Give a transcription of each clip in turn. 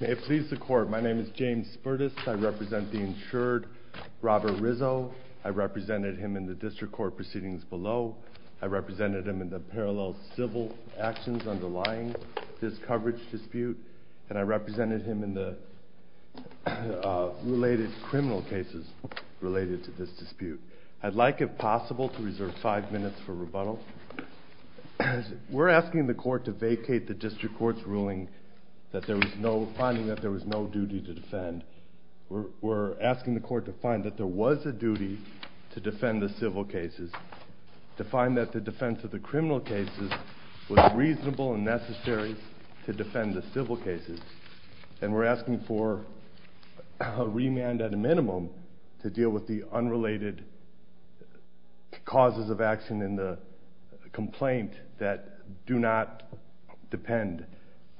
May it please the Court, my name is James Spertus. I represent the insured Robert Rizzo. I represented him in the district court proceedings below. I represented him in the parallel civil actions underlying this coverage dispute. And I represented him in the related criminal cases related to this dispute. I'd like, if possible, to reserve five minutes for rebuttal. We're asking the Court to vacate the district court's ruling that there was no, finding that there was no duty to defend. We're asking the Court to find that there was a duty to defend the civil cases, to find that the defense of the criminal cases was reasonable and necessary to defend the civil cases. And we're asking for a remand at a minimum to deal with the unrelated causes of action in the complaint that do not depend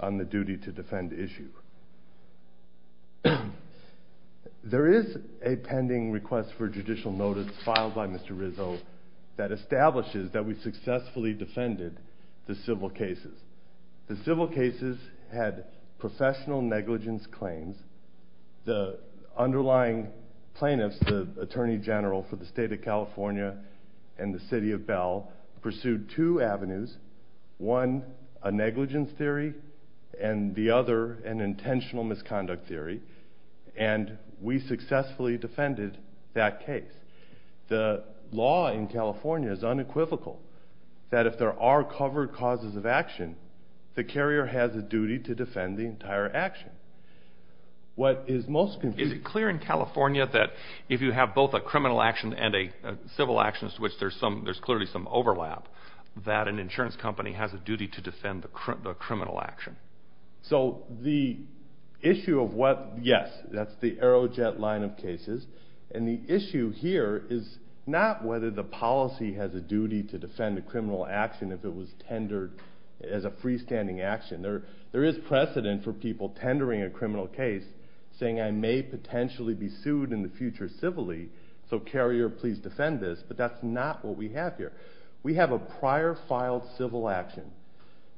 on the duty to defend issue. There is a pending request for judicial notice filed by Mr. Rizzo that establishes that we successfully defended the civil cases. The civil cases had professional negligence claims. The underlying plaintiffs, the Attorney General for the State of California and the City of Bell, pursued two avenues, one a negligence theory and the other an intentional misconduct theory. And we successfully defended that case. The law in California is unequivocal that if there are covered causes of action, the carrier has a duty to defend the entire action. What is most confusing... Is it clear in California that if you have both a criminal action and a civil action, to which there's clearly some overlap, that an insurance company has a duty to defend the criminal action? So the issue of what... Yes, that's the Aerojet line of cases. And the issue here is not whether the policy has a duty to defend a criminal action if it was tendered as a freestanding action. There is precedent for people tendering a criminal case, saying I may potentially be sued in the future civilly, so carrier please defend this. But that's not what we have here. We have a prior filed civil action.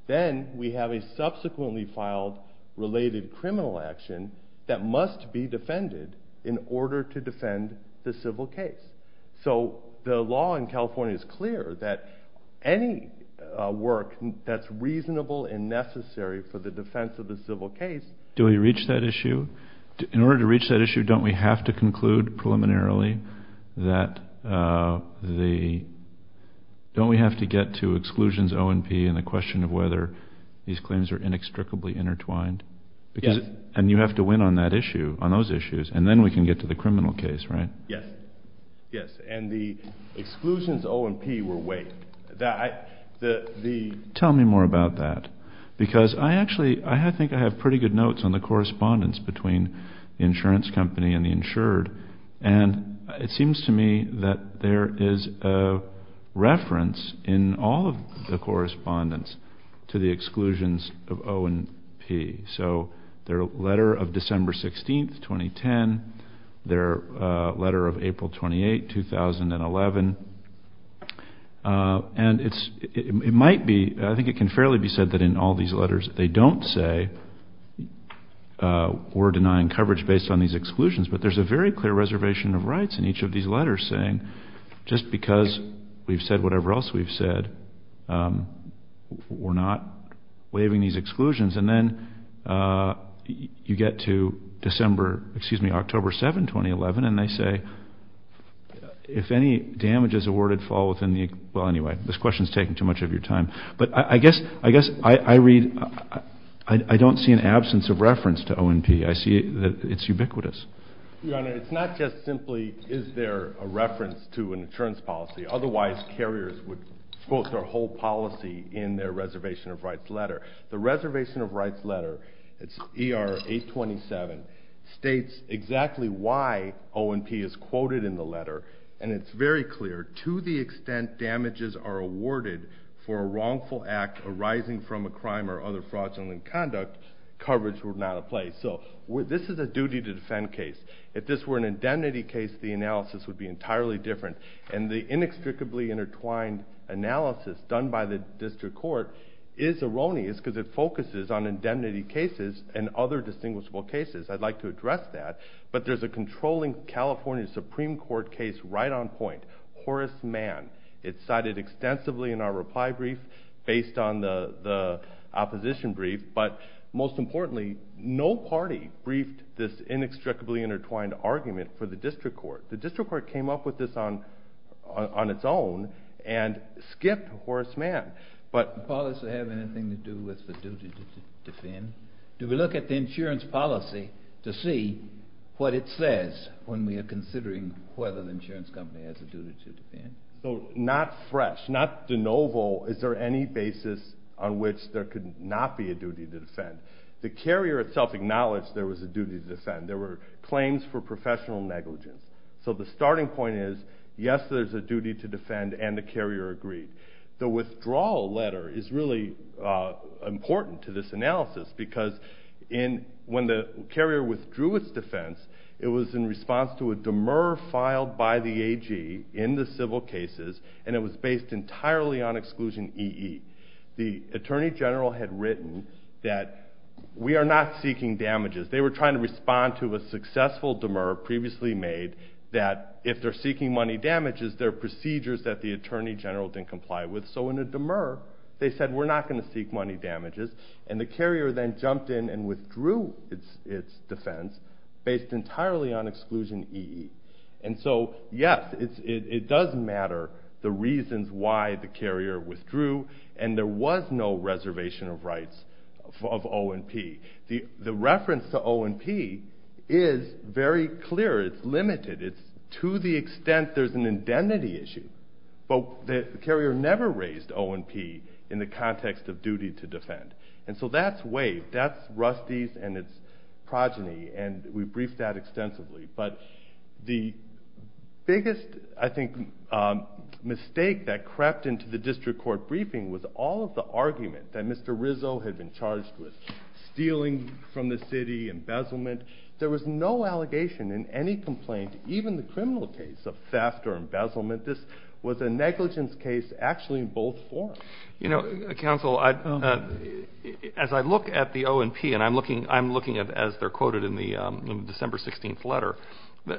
Then we have a subsequently filed related criminal action that must be defended in order to defend the civil case. So the law in California is clear that any work that's reasonable and necessary for the defense of the civil case... In order to reach that issue, don't we have to conclude preliminarily that the... Don't we have to get to exclusions O&P and the question of whether these claims are inextricably intertwined? Yes. And you have to win on that issue, on those issues, and then we can get to the criminal case, right? Yes. Yes. And the exclusions O&P were waived. Tell me more about that. Because I actually, I think I have pretty good notes on the correspondence between the insurance company and the insured. And it seems to me that there is a reference in all of the correspondence to the exclusions of O&P. So their letter of December 16, 2010, their letter of April 28, 2011. And it might be, I think it can fairly be said that in all these letters they don't say we're denying coverage based on these exclusions. But there's a very clear reservation of rights in each of these letters saying just because we've said whatever else we've said, we're not waiving these exclusions. And then you get to December, excuse me, October 7, 2011, and they say if any damages awarded fall within the, well anyway, this question is taking too much of your time. But I guess I read, I don't see an absence of reference to O&P. I see that it's ubiquitous. Your Honor, it's not just simply is there a reference to an insurance policy. Otherwise carriers would quote their whole policy in their reservation of rights letter. The reservation of rights letter, it's ER 827, states exactly why O&P is quoted in the letter. And it's very clear to the extent damages are awarded for a wrongful act arising from a crime or other fraudulent conduct, coverage would not apply. So this is a duty to defend case. If this were an indemnity case, the analysis would be entirely different. And the inextricably intertwined analysis done by the district court is erroneous because it focuses on indemnity cases and other distinguishable cases. I'd like to address that. But there's a controlling California Supreme Court case right on point, Horace Mann. It's cited extensively in our reply brief based on the opposition brief. But most importantly, no party briefed this inextricably intertwined argument for the district court. The district court came up with this on its own and skipped Horace Mann. Does the policy have anything to do with the duty to defend? Do we look at the insurance policy to see what it says when we are considering whether the insurance company has a duty to defend? Not fresh, not de novo, is there any basis on which there could not be a duty to defend? The carrier itself acknowledged there was a duty to defend. There were claims for professional negligence. So the starting point is, yes, there's a duty to defend, and the carrier agreed. The withdrawal letter is really important to this analysis because when the carrier withdrew its defense, it was in response to a demur filed by the AG in the civil cases, and it was based entirely on exclusion EE. The attorney general had written that we are not seeking damages. They were trying to respond to a successful demur previously made that if they're seeking money damages, there are procedures that the attorney general didn't comply with. So in a demur, they said we're not going to seek money damages, and the carrier then jumped in and withdrew its defense based entirely on exclusion EE. And so, yes, it does matter the reasons why the carrier withdrew, and there was no reservation of rights of O&P. The reference to O&P is very clear. It's limited. It's to the extent there's an indemnity issue. But the carrier never raised O&P in the context of duty to defend, and so that's waived. That's Rusty's and its progeny, and we briefed that extensively. But the biggest, I think, mistake that crept into the district court briefing was all of the argument that Mr. Rizzo had been charged with, stealing from the city, embezzlement. There was no allegation in any complaint, even the criminal case of theft or embezzlement. This was a negligence case actually in both forms. You know, counsel, as I look at the O&P, and I'm looking at it as they're quoted in the December 16th letter,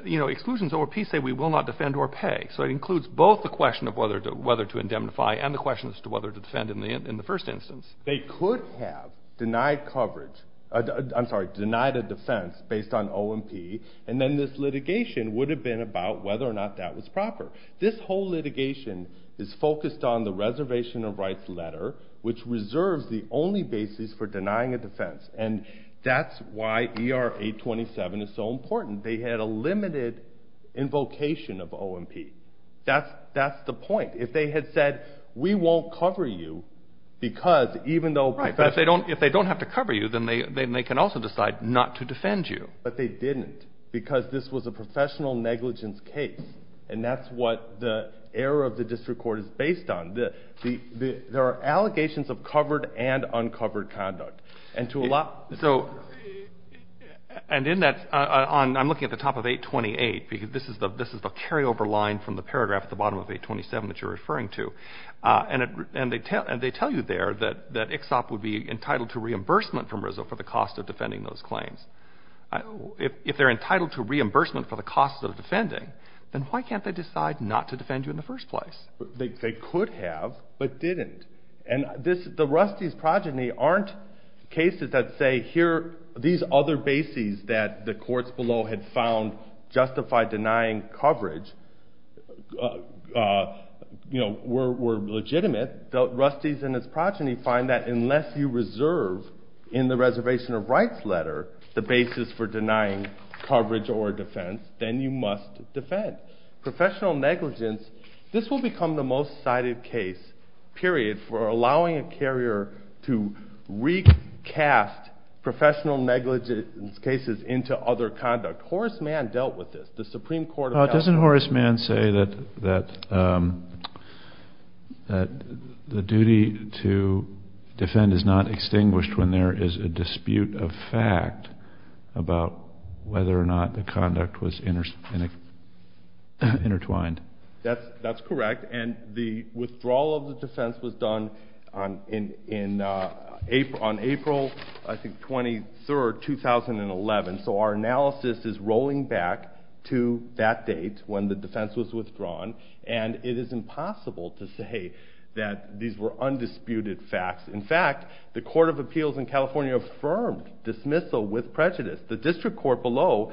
you know, exclusions O&P say we will not defend or pay. So it includes both the question of whether to indemnify and the question as to whether to defend in the first instance. They could have denied coverage, I'm sorry, denied a defense based on O&P, and then this litigation would have been about whether or not that was proper. This whole litigation is focused on the reservation of rights letter, which reserves the only basis for denying a defense, and that's why ER 827 is so important. They had a limited invocation of O&P. That's the point. If they had said we won't cover you because even though – Right, but if they don't have to cover you, then they can also decide not to defend you. But they didn't because this was a professional negligence case, and that's what the error of the district court is based on. There are allegations of covered and uncovered conduct. And in that, I'm looking at the top of 828, because this is the carryover line from the paragraph at the bottom of 827 that you're referring to, and they tell you there that ICSOP would be entitled to reimbursement from RISD for the cost of defending those claims. If they're entitled to reimbursement for the cost of defending, then why can't they decide not to defend you in the first place? They could have, but didn't. And the Rusty's progeny aren't cases that say here, these other bases that the courts below had found justified denying coverage were legitimate. The Rusty's and his progeny find that unless you reserve in the reservation of rights letter the basis for denying coverage or defense, then you must defend. Professional negligence, this will become the most cited case, period, for allowing a carrier to recast professional negligence cases into other conduct. Horace Mann dealt with this. The Supreme Court of California. Didn't Horace Mann say that the duty to defend is not extinguished when there is a dispute of fact about whether or not the conduct was intertwined? That's correct, and the withdrawal of the defense was done on April, I think, 23rd, 2011. So our analysis is rolling back to that date when the defense was withdrawn, and it is impossible to say that these were undisputed facts. In fact, the Court of Appeals in California affirmed dismissal with prejudice. The district court below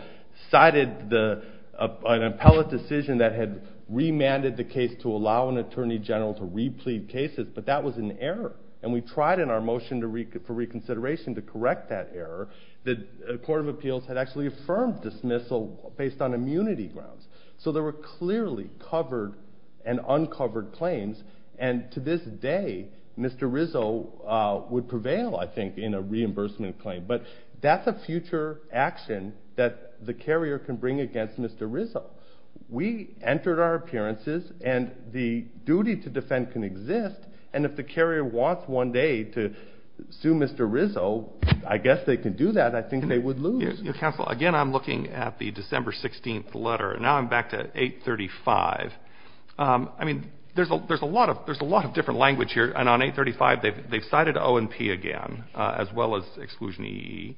cited an appellate decision that had remanded the case to allow an attorney general to re-plead cases, but that was an error, and we tried in our motion for reconsideration to correct that error. The Court of Appeals had actually affirmed dismissal based on immunity grounds. So there were clearly covered and uncovered claims, and to this day Mr. Rizzo would prevail, I think, in a reimbursement claim. But that's a future action that the carrier can bring against Mr. Rizzo. We entered our appearances, and the duty to defend can exist, and if the carrier wants one day to sue Mr. Rizzo, I guess they can do that. I think they would lose. Counsel, again I'm looking at the December 16th letter, and now I'm back to 835. I mean, there's a lot of different language here, and on 835 they've cited O&P again, as well as exclusion EE,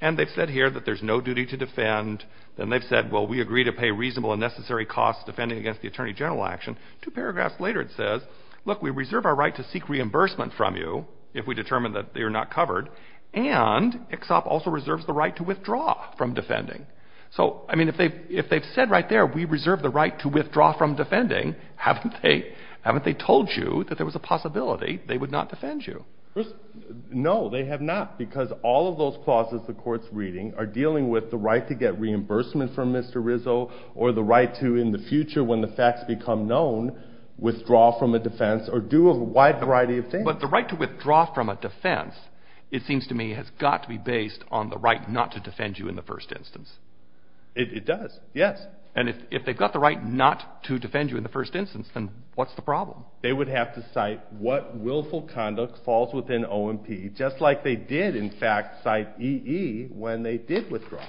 and they've said here that there's no duty to defend, and they've said, well, we agree to pay reasonable and necessary costs defending against the attorney general action. Two paragraphs later it says, look, we reserve our right to seek reimbursement from you if we determine that you're not covered, and EXOP also reserves the right to withdraw from defending. So, I mean, if they've said right there, we reserve the right to withdraw from defending, haven't they told you that there was a possibility they would not defend you? No, they have not, because all of those clauses the Court's reading are dealing with the right to get reimbursement from Mr. Rizzo, or the right to in the future when the facts become known withdraw from a defense or do a wide variety of things. But the right to withdraw from a defense, it seems to me, has got to be based on the right not to defend you in the first instance. It does, yes. And if they've got the right not to defend you in the first instance, then what's the problem? They would have to cite what willful conduct falls within O&P, just like they did in fact cite EE when they did withdraw.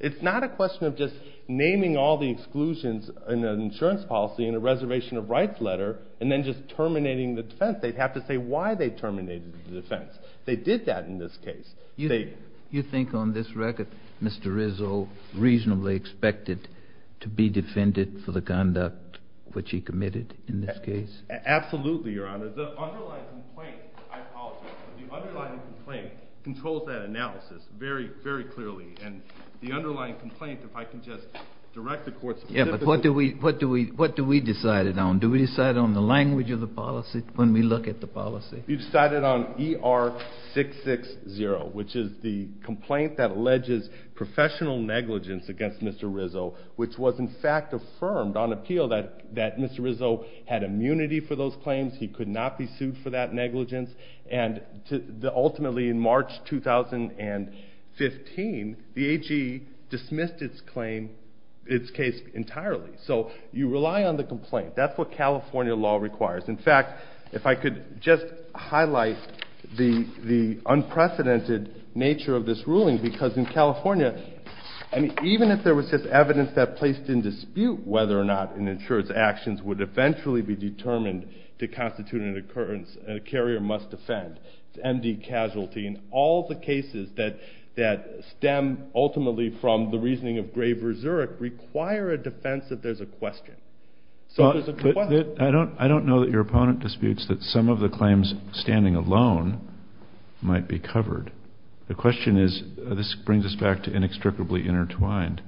It's not a question of just naming all the exclusions in an insurance policy in a reservation of rights letter and then just terminating the defense. They'd have to say why they terminated the defense. They did that in this case. You think on this record Mr. Rizzo reasonably expected to be defended for the conduct which he committed in this case? Absolutely, Your Honor. The underlying complaint, I apologize, but the underlying complaint controls that analysis very, very clearly. And the underlying complaint, if I can just direct the court specifically. Yeah, but what do we decide it on? Do we decide it on the language of the policy when we look at the policy? We decided on ER-660, which is the complaint that alleges professional negligence against Mr. Rizzo, which was in fact affirmed on appeal that Mr. Rizzo had immunity for those claims. He could not be sued for that negligence. And ultimately in March 2015, the AG dismissed its case entirely. So you rely on the complaint. That's what California law requires. In fact, if I could just highlight the unprecedented nature of this ruling because in California, even if there was just evidence that placed in dispute whether or not an insurance action would eventually be determined to constitute an occurrence and a carrier must defend, to MD casualty and all the cases that stem ultimately from the reasoning of Graver Zurich require a defense that there's a question. I don't know that your opponent disputes that some of the claims standing alone might be covered. The question is, this brings us back to inextricably intertwined.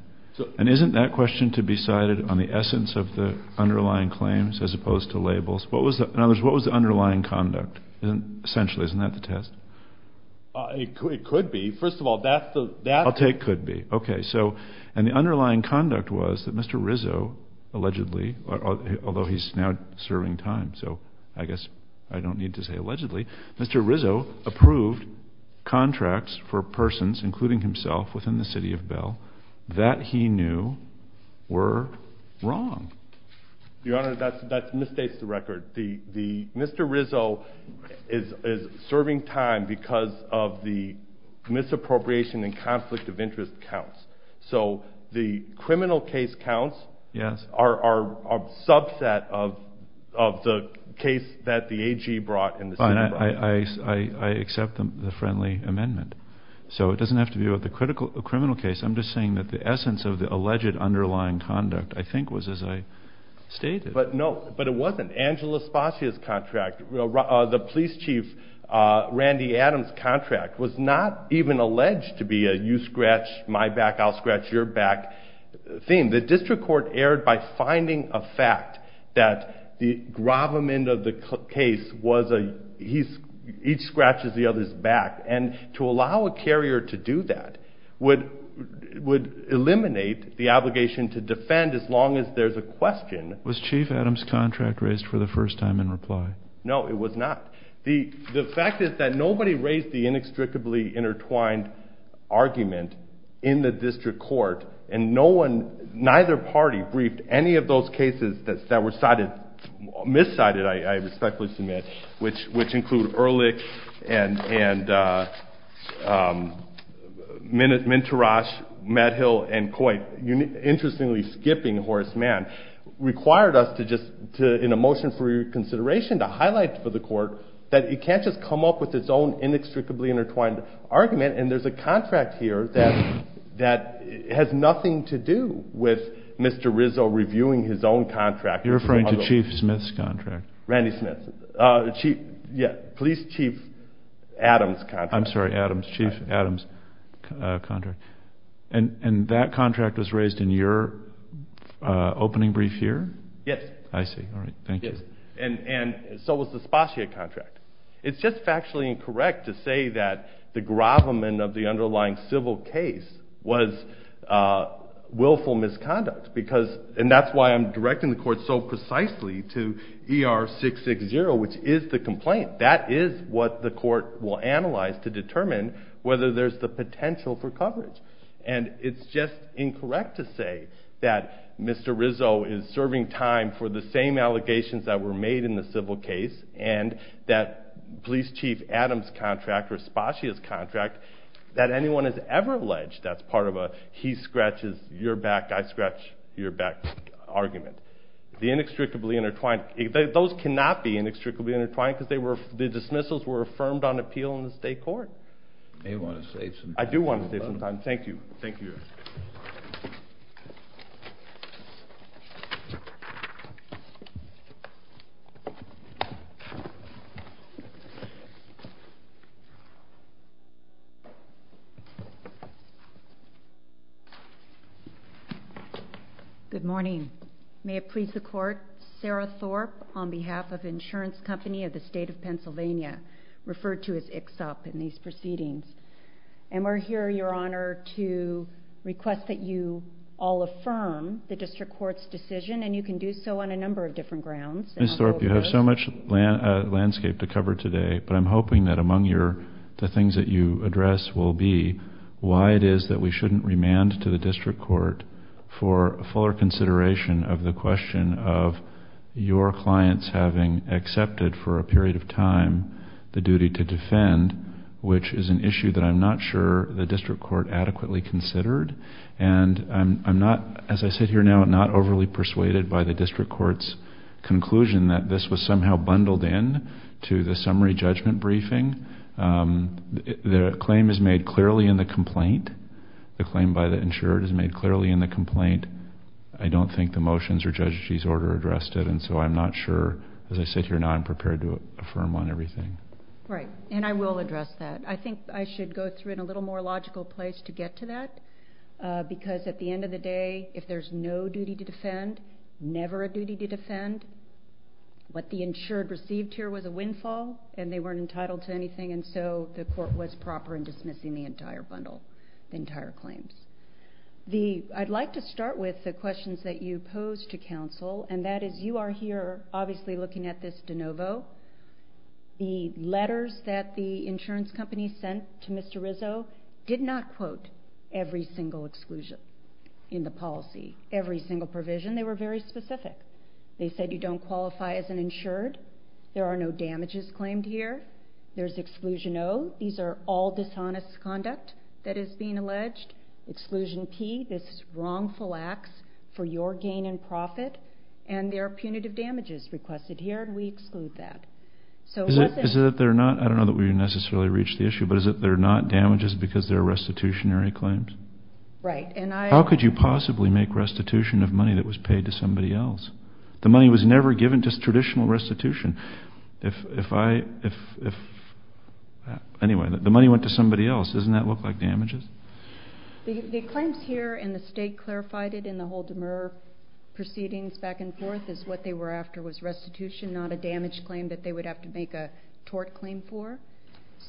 And isn't that question to be cited on the essence of the underlying claims as opposed to labels? What was the underlying conduct? Essentially, isn't that the test? It could be. First of all, that's the… I'll take could be. Okay. And the underlying conduct was that Mr. Rizzo allegedly, although he's now serving time, so I guess I don't need to say allegedly, Mr. Rizzo approved contracts for persons, including himself, within the city of Bell that he knew were wrong. Your Honor, that misstates the record. Mr. Rizzo is serving time because of the misappropriation and conflict of interest counts. So the criminal case counts are a subset of the case that the AG brought and the city brought. Fine. I accept the friendly amendment. So it doesn't have to do with the criminal case. I'm just saying that the essence of the alleged underlying conduct, I think, was as I stated. No, but it wasn't. Angela Spassia's contract, the police chief Randy Adams' contract, was not even alleged to be a you scratch my back, I'll scratch your back thing. The district court erred by finding a fact that the gravamen of the case was each scratches the other's back. And to allow a carrier to do that would eliminate the obligation to defend as long as there's a question. Was Chief Adams' contract raised for the first time in reply? No, it was not. The fact is that nobody raised the inextricably intertwined argument in the district court, and neither party briefed any of those cases that were miscited, I respectfully submit, which include Ehrlich and Minterash, Matt Hill, and Coit, interestingly skipping Horace Mann, required us in a motion for reconsideration to highlight for the court that it can't just come up with its own inextricably intertwined argument, and there's a contract here that has nothing to do with Mr. Rizzo reviewing his own contract. You're referring to Chief Smith's contract. Randy Smith. Chief, yeah, Police Chief Adams' contract. I'm sorry, Adams, Chief Adams' contract. And that contract was raised in your opening brief here? Yes. I see. All right. Thank you. And so was the Spossier contract. It's just factually incorrect to say that the gravamen of the underlying civil case was willful misconduct because, and that's why I'm directing the court so precisely to ER-660, which is the complaint. That is what the court will analyze to determine whether there's the potential for coverage. And it's just incorrect to say that Mr. Rizzo is serving time for the same allegations that were made in the civil case and that Police Chief Adams' contract or Spossier's contract that anyone has ever alleged that's part of a he-scratches-your-back-I-scratch-your-back argument. The inextricably intertwined, those cannot be inextricably intertwined because the dismissals were affirmed on appeal in the state court. You may want to save some time. I do want to save some time. Thank you. Thank you. Thank you. Good morning. May it please the Court, Sarah Thorpe on behalf of Insurance Company of the State of Pennsylvania, referred to as ICSOP in these proceedings. And we're here, Your Honor, to request that you all affirm the district court's decision, and you can do so on a number of different grounds. Ms. Thorpe, you have so much landscape to cover today, but I'm hoping that among the things that you address will be why it is that we shouldn't remand to the district court for fuller consideration of the question of your clients having accepted for a period of time the duty to defend, which is an issue that I'm not sure the district court adequately considered. And I'm not, as I sit here now, not overly persuaded by the district court's conclusion that this was somehow bundled in to the summary judgment briefing. The claim is made clearly in the complaint. The claim by the insured is made clearly in the complaint. I don't think the motions or judge's order addressed it, and so I'm not sure, as I sit here now, I'm prepared to affirm on everything. Right, and I will address that. I think I should go through in a little more logical place to get to that, because at the end of the day, if there's no duty to defend, never a duty to defend, what the insured received here was a windfall, and they weren't entitled to anything, and so the court was proper in dismissing the entire bundle, the entire claims. I'd like to start with the questions that you pose to counsel, and that is you are here obviously looking at this de novo. The letters that the insurance company sent to Mr. Rizzo did not quote every single exclusion in the policy, every single provision. They were very specific. They said you don't qualify as an insured. There are no damages claimed here. There's exclusion O. These are all dishonest conduct that is being alleged. Exclusion P, this is wrongful acts for your gain in profit, and there are punitive damages requested here, and we exclude that. Is it that they're not? I don't know that we've necessarily reached the issue, but is it they're not damages because they're restitutionary claims? Right. How could you possibly make restitution of money that was paid to somebody else? The money was never given just traditional restitution. Anyway, the money went to somebody else. Doesn't that look like damages? The claims here and the state clarified it in the whole demur proceedings back and forth is what they were after was restitution, not a damage claim that they would have to make a tort claim for.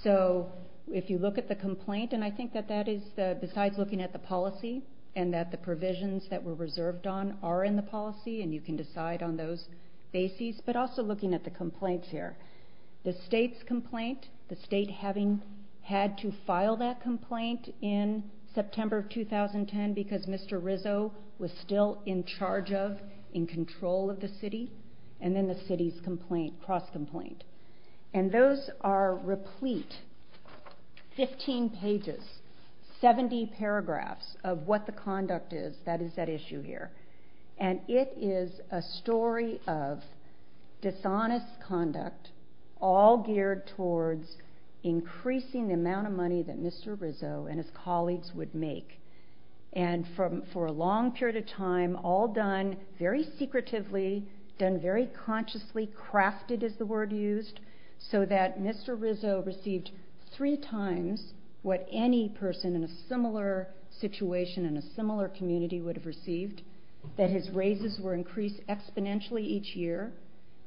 So if you look at the complaint, and I think that that is besides looking at the policy and that the provisions that were reserved on are in the policy and you can decide on those bases, but also looking at the complaints here. The state's complaint, the state having had to file that complaint in September of 2010 because Mr. Rizzo was still in charge of, in control of the city, and then the city's cross-complaint. And those are replete, 15 pages, 70 paragraphs of what the conduct is that is at issue here. And it is a story of dishonest conduct, all geared towards increasing the amount of money that Mr. Rizzo and his colleagues would make. And for a long period of time, all done very secretively, done very consciously, crafted is the word used, so that Mr. Rizzo received three times what any person in a similar situation in a similar community would have received, that his raises were increased exponentially each year,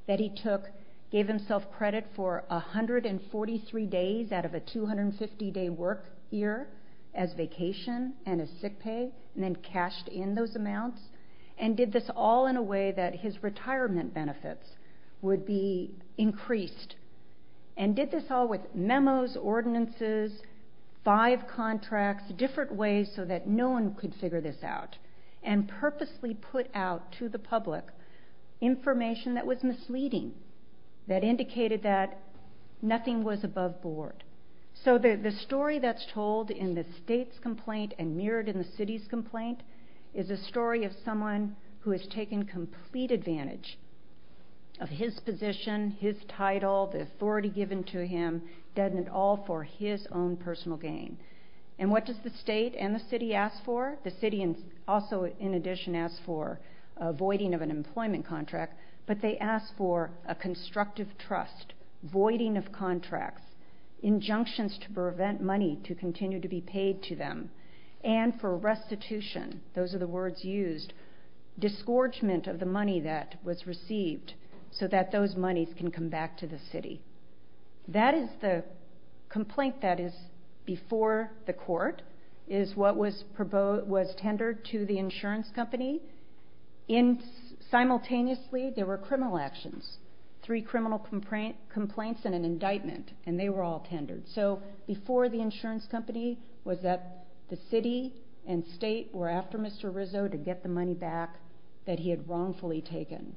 that he took, gave himself credit for 143 days out of a 250-day work year as vacation and as sick pay, and then cashed in those amounts, and did this all in a way that his retirement benefits would be increased. And did this all with memos, ordinances, five contracts, different ways so that no one could figure this out, and purposely put out to the public information that was misleading, that indicated that nothing was above board. So the story that's told in the state's complaint and mirrored in the city's complaint is a story of someone who has taken complete advantage of his position, his title, the authority given to him, done it all for his own personal gain. And what does the state and the city ask for? The city also, in addition, asks for a voiding of an employment contract, but they ask for a constructive trust, voiding of contracts, injunctions to prevent money to continue to be paid to them, and for restitution, those are the words used, disgorgement of the money that was received so that those monies can come back to the city. That is the complaint that is before the court, is what was tendered to the insurance company. Simultaneously, there were criminal actions, three criminal complaints and an indictment, and they were all tendered. So before the insurance company was that the city and state were after Mr. Rizzo to get the money back that he had wrongfully taken,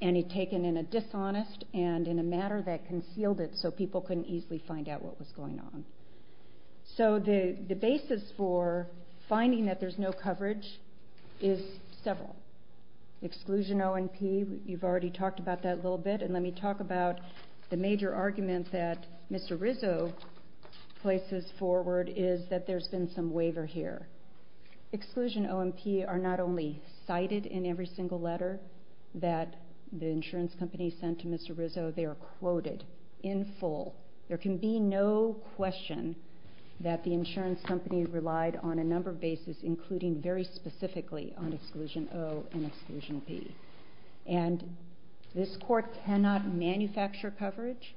and he'd taken in a dishonest and in a matter that concealed it so people couldn't easily find out what was going on. So the basis for finding that there's no coverage is several. Exclusion O&P, you've already talked about that a little bit, and let me talk about the major argument that Mr. Rizzo places forward is that there's been some waiver here. Exclusion O&P are not only cited in every single letter that the insurance company sent to Mr. Rizzo, they are quoted in full. There can be no question that the insurance company relied on a number of bases, including very specifically on Exclusion O and Exclusion P. And this court cannot manufacture coverage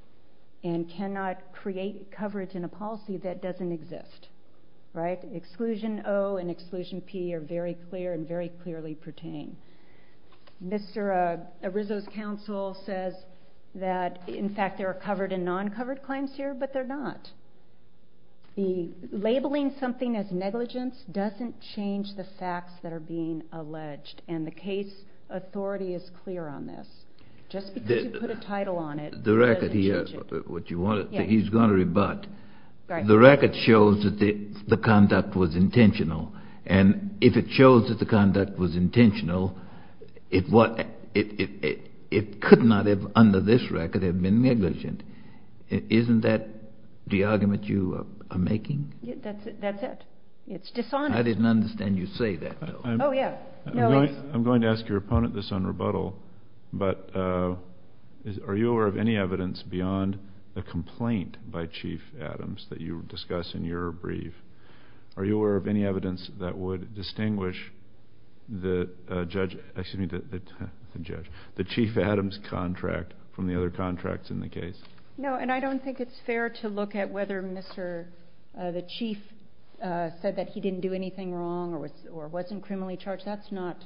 and cannot create coverage in a policy that doesn't exist. Right? Exclusion O and Exclusion P are very clear and very clearly pertain. Mr. Rizzo's counsel says that, in fact, there are covered and non-covered claims here, but they're not. Labeling something as negligence doesn't change the facts that are being alleged, and the case authority is clear on this. Just because you put a title on it doesn't change it. He's going to rebut. The record shows that the conduct was intentional, and if it shows that the conduct was intentional, it could not under this record have been negligent. Isn't that the argument you are making? That's it. It's dishonest. I didn't understand you say that, though. Oh, yeah. I'm going to ask your opponent this on rebuttal, but are you aware of any evidence beyond the complaint by Chief Adams that you discuss in your brief? Are you aware of any evidence that would distinguish the Chief Adams contract from the other contracts in the case? No, and I don't think it's fair to look at whether the chief said that he didn't do anything wrong or wasn't criminally charged. That's not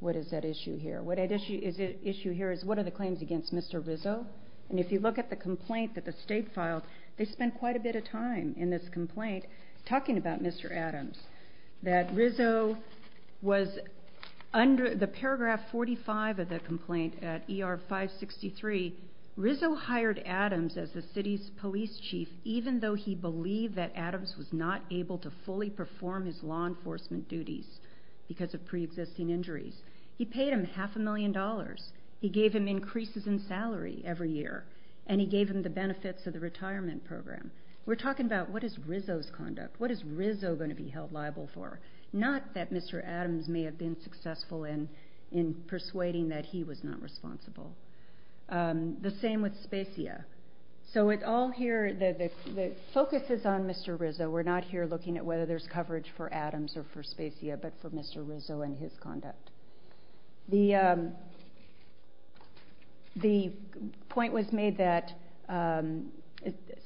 what is at issue here. What is at issue here is what are the claims against Mr. Rizzo, and if you look at the complaint that the state filed, they spent quite a bit of time in this complaint talking about Mr. Adams. The paragraph 45 of the complaint at ER 563, Rizzo hired Adams as the city's police chief even though he believed that Adams was not able to fully perform his law enforcement duties because of preexisting injuries. He paid him half a million dollars. He gave him increases in salary every year, and he gave him the benefits of the retirement program. We're talking about what is Rizzo's conduct. What is Rizzo going to be held liable for? Not that Mr. Adams may have been successful in persuading that he was not responsible. The same with Spacia. So it all here, the focus is on Mr. Rizzo. We're not here looking at whether there's coverage for Adams or for Spacia, but for Mr. Rizzo and his conduct. The point was made that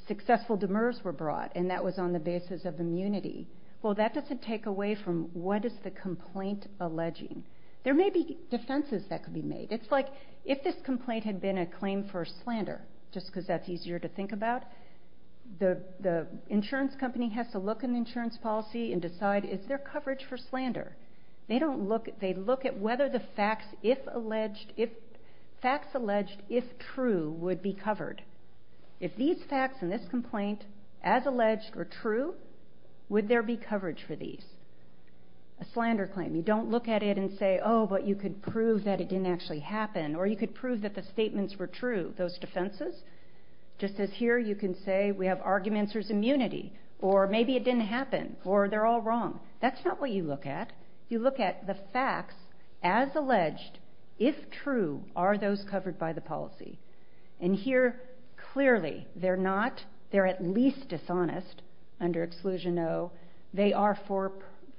successful demurs were brought, and that was on the basis of immunity. Well, that doesn't take away from what is the complaint alleging. There may be defenses that could be made. It's like if this complaint had been a claim for slander, just because that's easier to think about, the insurance company has to look in the insurance policy and decide is there coverage for slander. They look at whether the facts alleged if true would be covered. If these facts in this complaint, as alleged or true, would there be coverage for these? A slander claim, you don't look at it and say, oh, but you could prove that it didn't actually happen, or you could prove that the statements were true, those defenses. Just as here you can say we have arguments, there's immunity, or maybe it didn't happen, or they're all wrong. That's not what you look at. You look at the facts as alleged. If true, are those covered by the policy? And here clearly they're not. They're at least dishonest under Exclusion O. They are for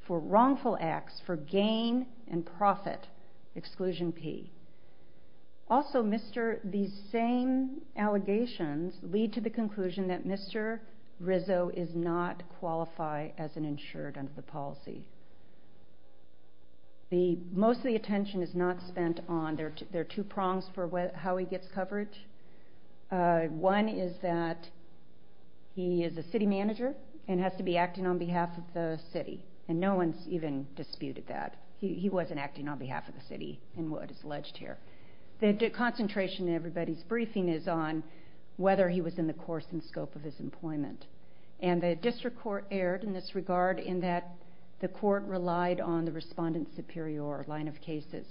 wrongful acts, for gain and profit, Exclusion P. Also, these same allegations lead to the conclusion that Mr. Rizzo is not qualified as an insured under the policy. Most of the attention is not spent on, there are two prongs for how he gets coverage. One is that he is a city manager and has to be acting on behalf of the city, and no one's even disputed that. He wasn't acting on behalf of the city in what is alleged here. The concentration in everybody's briefing is on whether he was in the course and scope of his employment. And the district court erred in this regard in that the court relied on the respondent superior line of cases.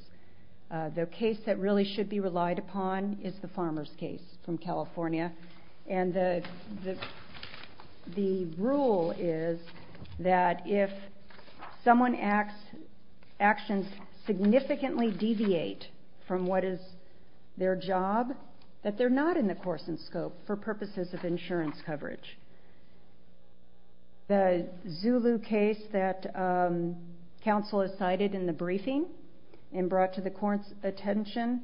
The case that really should be relied upon is the farmer's case from California. And the rule is that if someone's actions significantly deviate from what is their job, that they're not in the course and scope for purposes of insurance coverage. The Zulu case that counsel has cited in the briefing and brought to the court's attention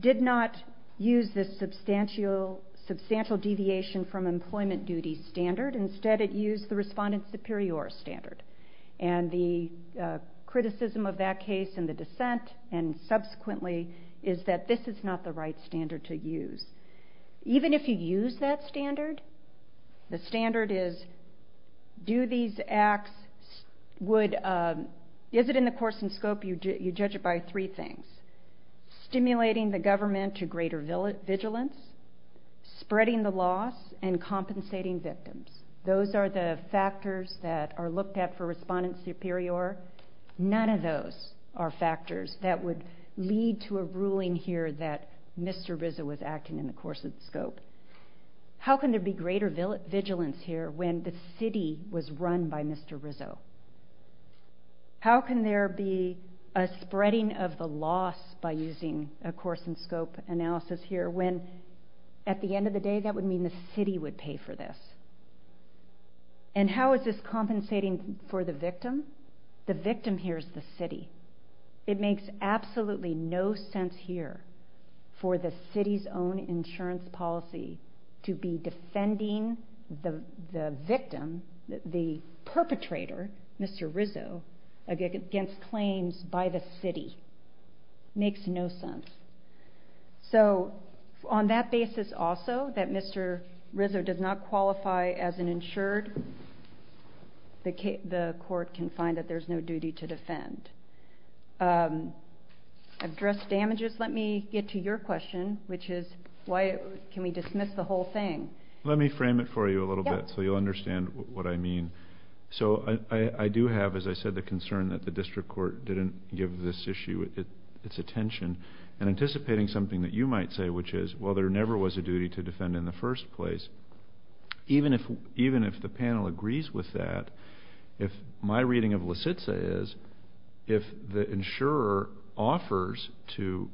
did not use this substantial deviation from employment duty standard. Instead, it used the respondent superior standard. And the criticism of that case in the dissent and subsequently is that this is not the right standard to use. Even if you use that standard, the standard is do these acts would... Is it in the course and scope? You judge it by three things. Stimulating the government to greater vigilance, spreading the loss, and compensating victims. Those are the factors that are looked at for respondent superior. None of those are factors that would lead to a ruling here that Mr. Rizzo was acting in the course and scope. How can there be greater vigilance here when the city was run by Mr. Rizzo? How can there be a spreading of the loss by using a course and scope analysis here when at the end of the day that would mean the city would pay for this? And how is this compensating for the victim? The victim here is the city. It makes absolutely no sense here for the city's own insurance policy to be defending the victim, the perpetrator, Mr. Rizzo, against claims by the city. Makes no sense. So on that basis also, that Mr. Rizzo does not qualify as an insured, the court can find that there's no duty to defend. I've addressed damages. Let me get to your question, which is, can we dismiss the whole thing? Let me frame it for you a little bit so you'll understand what I mean. So I do have, as I said, the concern that the district court didn't give this issue its attention and anticipating something that you might say, which is, well, there never was a duty to defend in the first place. Even if the panel agrees with that, my reading of LaCitsa is if the insurer offers to,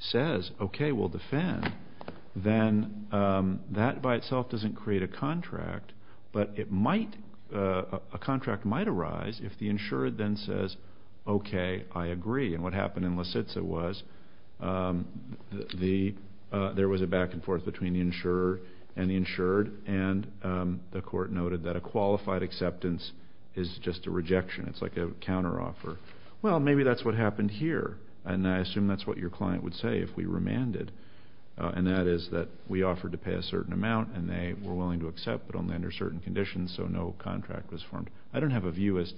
says, okay, we'll defend, then that by itself doesn't create a contract, but a contract might arise if the insured then says, okay, I agree. And what happened in LaCitsa was there was a back and forth between the insurer and the insured, and the court noted that a qualified acceptance is just a rejection. It's like a counteroffer. Well, maybe that's what happened here, and I assume that's what your client would say if we remanded, and that is that we offered to pay a certain amount and they were willing to accept, but only under certain conditions, so no contract was formed. I don't have a view as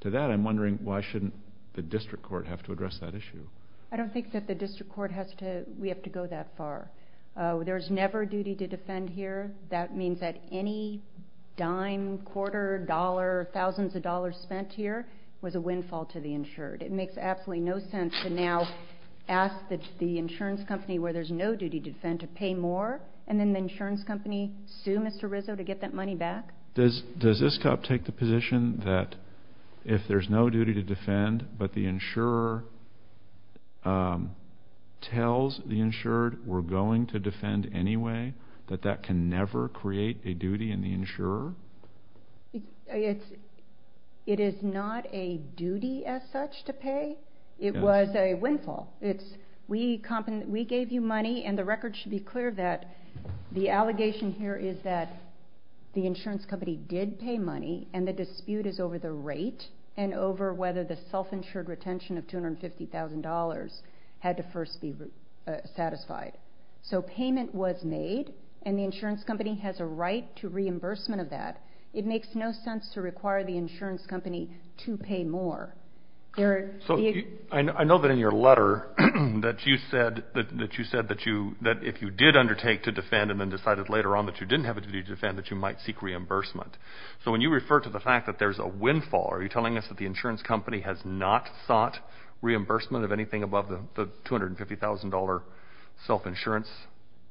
to that. I'm wondering why shouldn't the district court have to address that issue. I don't think that the district court has to go that far. There's never a duty to defend here. That means that any dime, quarter, dollar, thousands of dollars spent here was a windfall to the insured. It makes absolutely no sense to now ask the insurance company where there's no duty to defend to pay more, and then the insurance company sue Mr. Rizzo to get that money back. Does this cop take the position that if there's no duty to defend but the insurer tells the insured we're going to defend anyway, that that can never create a duty in the insurer? It is not a duty as such to pay. It was a windfall. We gave you money, and the record should be clear that the allegation here is that the insurance company did pay money and the dispute is over the rate and over whether the self-insured retention of $250,000 had to first be satisfied. So payment was made, and the insurance company has a right to reimbursement of that. It makes no sense to require the insurance company to pay more. I know that in your letter that you said that if you did undertake to defend and then decided later on that you didn't have a duty to defend that you might seek reimbursement. So when you refer to the fact that there's a windfall, are you telling us that the insurance company has not sought reimbursement of anything above the $250,000 self-insurance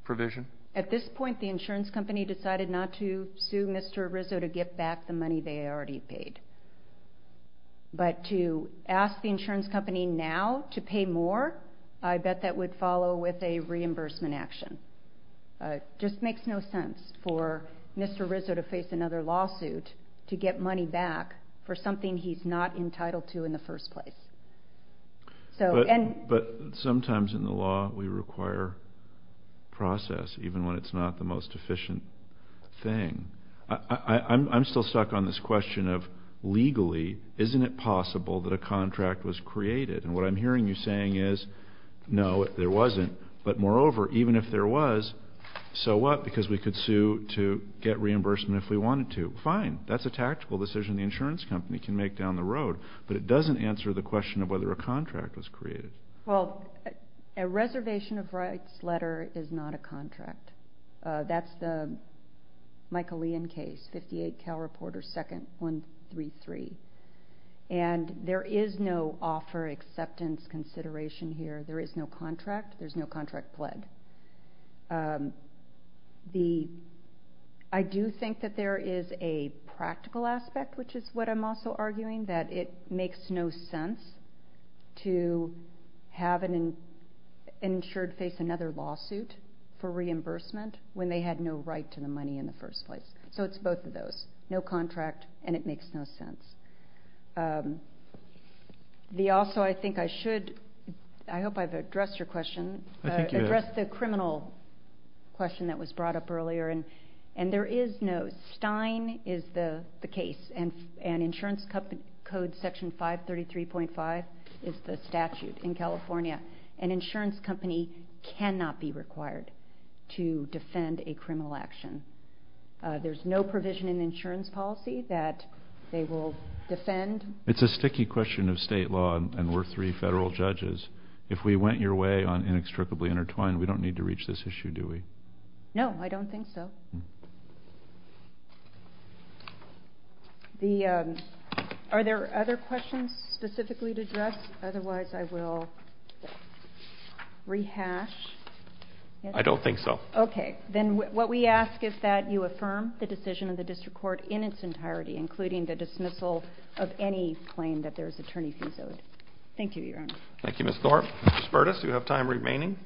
provision? At this point, the insurance company decided not to sue Mr. Rizzo to get back the money they already paid. But to ask the insurance company now to pay more, I bet that would follow with a reimbursement action. It just makes no sense for Mr. Rizzo to face another lawsuit to get money back for something he's not entitled to in the first place. But sometimes in the law we require process, even when it's not the most efficient thing. I'm still stuck on this question of legally, isn't it possible that a contract was created? And what I'm hearing you saying is, no, there wasn't. But moreover, even if there was, so what? Because we could sue to get reimbursement if we wanted to. Fine. That's a tactical decision the insurance company can make down the road. But it doesn't answer the question of whether a contract was created. Well, a reservation of rights letter is not a contract. That's the Michaelian case, 58 Cal Reporter 2nd, 133. And there is no offer acceptance consideration here. There is no contract. There's no contract pled. I do think that there is a practical aspect, which is what I'm also arguing, that it makes no sense to have an insured face another lawsuit for reimbursement when they had no right to the money in the first place. So it's both of those. No contract, and it makes no sense. Also, I think I should, I hope I've addressed your question. I think you have. Address the criminal question that was brought up earlier. And there is no, Stein is the case, and insurance code section 533.5 is the statute in California. An insurance company cannot be required to defend a criminal action. There's no provision in insurance policy that they will defend. It's a sticky question of state law, and we're three federal judges. If we went your way on inextricably intertwined, we don't need to reach this issue, do we? No, I don't think so. Are there other questions specifically to address? Otherwise, I will rehash. I don't think so. Okay. Then what we ask is that you affirm the decision of the district court in its entirety, including the dismissal of any claim that there is attorney fees owed. Thank you, Your Honor. Thank you, Ms. Thorpe. Mr. Spertus, you have time remaining.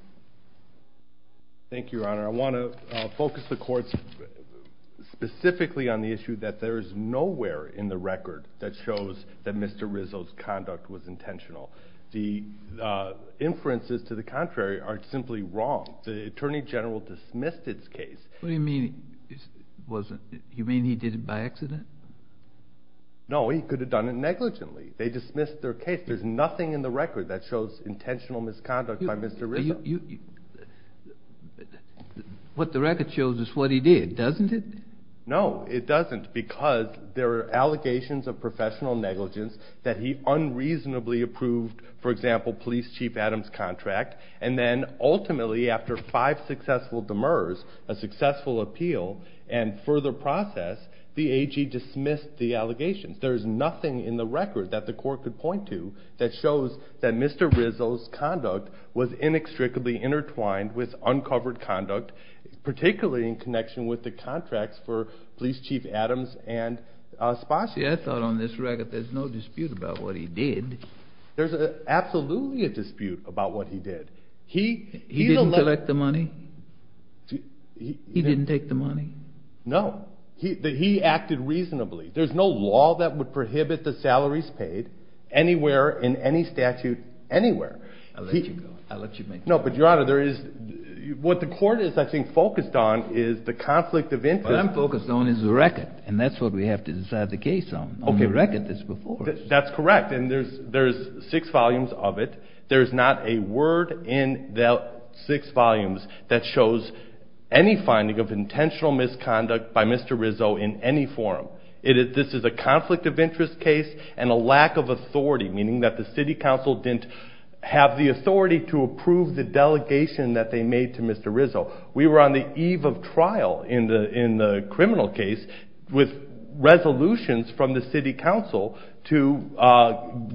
Thank you, Your Honor. I want to focus the courts specifically on the issue that there is nowhere in the record that shows that Mr. Rizzo's conduct was intentional. The inferences to the contrary are simply wrong. The attorney general dismissed its case. You mean he did it by accident? No, he could have done it negligently. They dismissed their case. There's nothing in the record that shows intentional misconduct by Mr. Rizzo. What the record shows is what he did, doesn't it? No, it doesn't because there are allegations of professional negligence that he unreasonably approved, for example, Police Chief Adams' contract, and then ultimately after five successful demurs, a successful appeal, and further process, the AG dismissed the allegations. There is nothing in the record that the court could point to that shows that Mr. Rizzo's conduct was inextricably intertwined with uncovered conduct, particularly in connection with the contracts for Police Chief Adams and Sposky. I thought on this record there's no dispute about what he did. There's absolutely a dispute about what he did. He didn't collect the money? He didn't take the money? No. He acted reasonably. There's no law that would prohibit the salaries paid anywhere in any statute anywhere. I'll let you go. I'll let you make a point. No, but, Your Honor, what the court is, I think, focused on is the conflict of interest. What I'm focused on is the record, and that's what we have to decide the case on, on the record that's before us. That's correct, and there's six volumes of it. There's not a word in the six volumes that shows any finding of intentional misconduct by Mr. Rizzo in any form. This is a conflict of interest case and a lack of authority, meaning that the city council didn't have the authority to approve the delegation that they made to Mr. Rizzo. We were on the eve of trial in the criminal case with resolutions from the city council to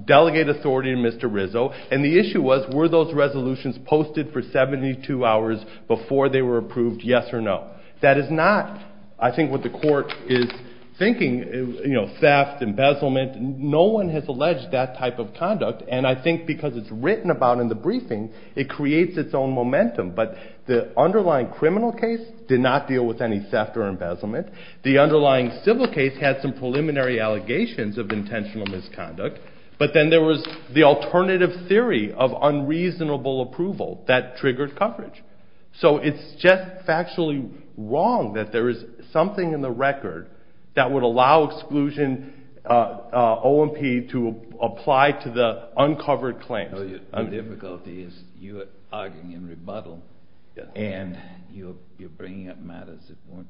delegate authority to Mr. Rizzo, and the issue was were those resolutions posted for 72 hours before they were approved, yes or no? That is not, I think, what the court is thinking, you know, theft, embezzlement. No one has alleged that type of conduct, and I think because it's written about in the briefing, it creates its own momentum, but the underlying criminal case did not deal with any theft or embezzlement. The underlying civil case had some preliminary allegations of intentional misconduct, but then there was the alternative theory of unreasonable approval that triggered coverage. So it's just factually wrong that there is something in the record that would allow exclusion OMP to apply to the uncovered claims. The difficulty is you are arguing in rebuttal, and you're bringing up matters that weren't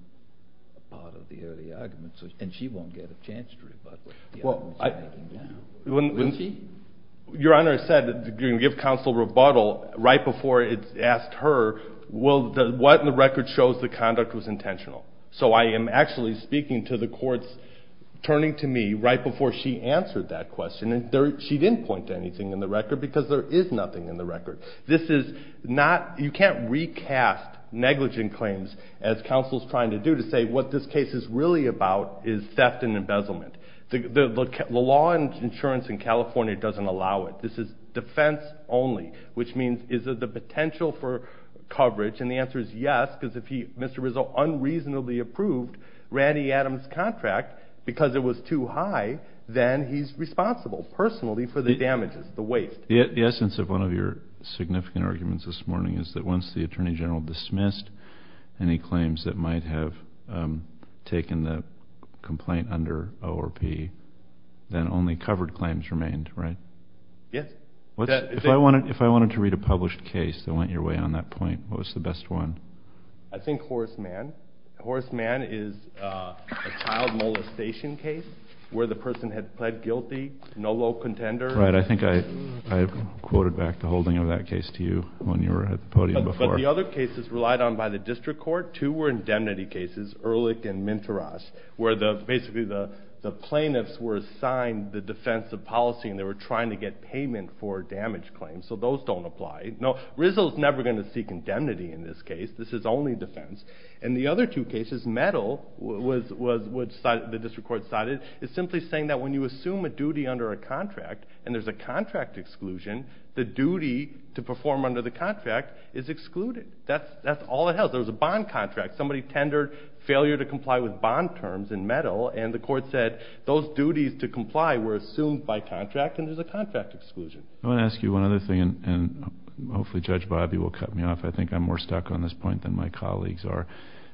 part of the earlier argument, and she won't get a chance to rebuttal. Your Honor, I said you're going to give counsel rebuttal right before it's asked her what in the record shows the conduct was intentional. So I am actually speaking to the court's turning to me right before she answered that question, and she didn't point to anything in the record because there is nothing in the record. This is not, you can't recast negligent claims as counsel is trying to do to say what this case is really about is theft and embezzlement. The law and insurance in California doesn't allow it. This is defense only, which means is there the potential for coverage, and the answer is yes, because if Mr. Rizzo unreasonably approved Randy Adams' contract because it was too high, then he's responsible personally for the damages, the waste. The essence of one of your significant arguments this morning is that once the Attorney General dismissed any claims that might have taken the complaint under ORP, then only covered claims remained, right? Yes. If I wanted to read a published case that went your way on that point, what was the best one? I think Horace Mann. Horace Mann is a child molestation case where the person had pled guilty, no low contender. Right. I think I quoted back the holding of that case to you when you were at the podium before. But the other cases relied on by the district court, two were indemnity cases, Ehrlich and Minteros, where basically the plaintiffs were assigned the defense of policy, and they were trying to get payment for damaged claims, so those don't apply. No, Rizzo's never going to seek indemnity in this case. This is only defense. In the other two cases, Mettle, which the district court cited, is simply saying that when you assume a duty under a contract and there's a contract exclusion, the duty to perform under the contract is excluded. That's all it has. There was a bond contract. Somebody tendered failure to comply with bond terms in Mettle, and the court said those duties to comply were assumed by contract and there's a contract exclusion. I want to ask you one other thing, and hopefully Judge Bobbie will cut me off. I think I'm more stuck on this point than my colleagues are.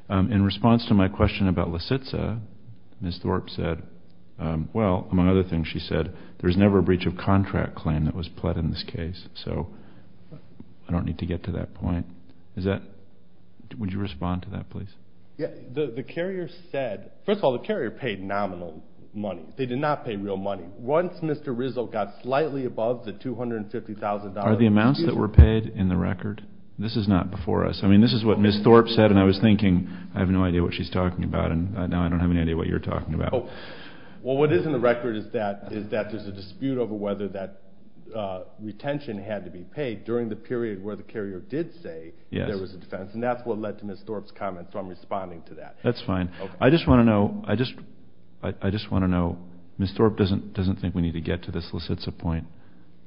In response to my question about Lisitza, Ms. Thorpe said, well, among other things she said, there's never a breach of contract claim that was pled in this case. So I don't need to get to that point. Would you respond to that, please? The carrier said, first of all, the carrier paid nominal money. They did not pay real money. Once Mr. Rizzo got slightly above the $250,000. Are the amounts that were paid in the record? This is not before us. I mean this is what Ms. Thorpe said, and I was thinking I have no idea what she's talking about, and now I don't have any idea what you're talking about. Well, what is in the record is that there's a dispute over whether that retention had to be paid during the period where the carrier did say there was a defense, and that's what led to Ms. Thorpe's comment, so I'm responding to that. That's fine. I just want to know, Ms. Thorpe doesn't think we need to get to this Lisitza point.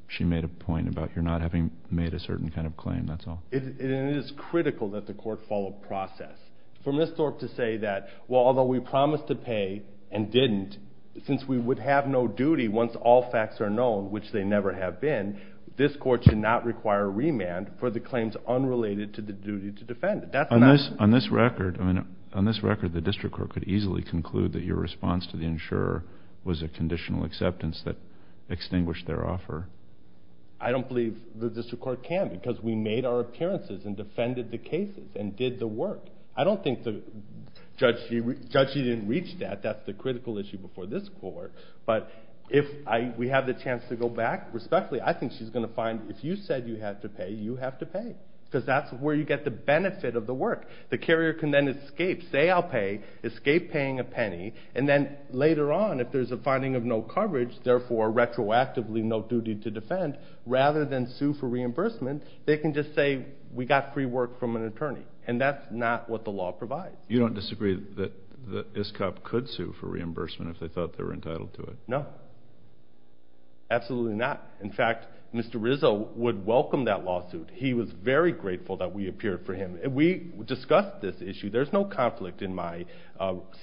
She made a point about your not having made a certain kind of claim, that's all. It is critical that the court follow process. For Ms. Thorpe to say that, well, although we promised to pay and didn't, since we would have no duty once all facts are known, which they never have been, this court should not require remand for the claims unrelated to the duty to defend. On this record, the district court could easily conclude that your response to the insurer was a conditional acceptance that extinguished their offer. I don't believe the district court can because we made our appearances and defended the cases and did the work. I don't think the judge even reached that. That's the critical issue before this court. But if we have the chance to go back respectfully, I think she's going to find if you said you had to pay, you have to pay because that's where you get the benefit of the work. The carrier can then escape, say I'll pay, escape paying a penny, and then later on if there's a finding of no coverage, therefore retroactively no duty to defend, rather than sue for reimbursement, they can just say we got free work from an attorney, and that's not what the law provides. You don't disagree that ISCOP could sue for reimbursement if they thought they were entitled to it? No, absolutely not. In fact, Mr. Rizzo would welcome that lawsuit. He was very grateful that we appeared for him. We discussed this issue. There's no conflict in my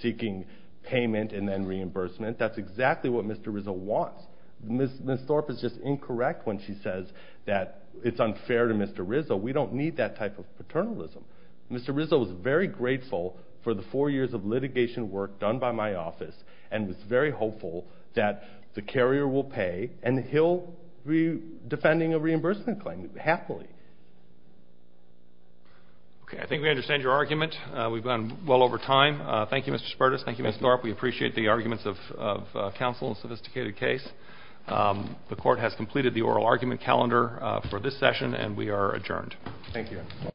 seeking payment and then reimbursement. That's exactly what Mr. Rizzo wants. Ms. Thorpe is just incorrect when she says that it's unfair to Mr. Rizzo. We don't need that type of paternalism. Mr. Rizzo was very grateful for the four years of litigation work done by my office and was very hopeful that the carrier will pay, and he'll be defending a reimbursement claim happily. Okay, I think we understand your argument. We've gone well over time. Thank you, Mr. Spertus. Thank you, Ms. Thorpe. We appreciate the arguments of counsel in a sophisticated case. The Court has completed the oral argument calendar for this session, and we are adjourned. Thank you.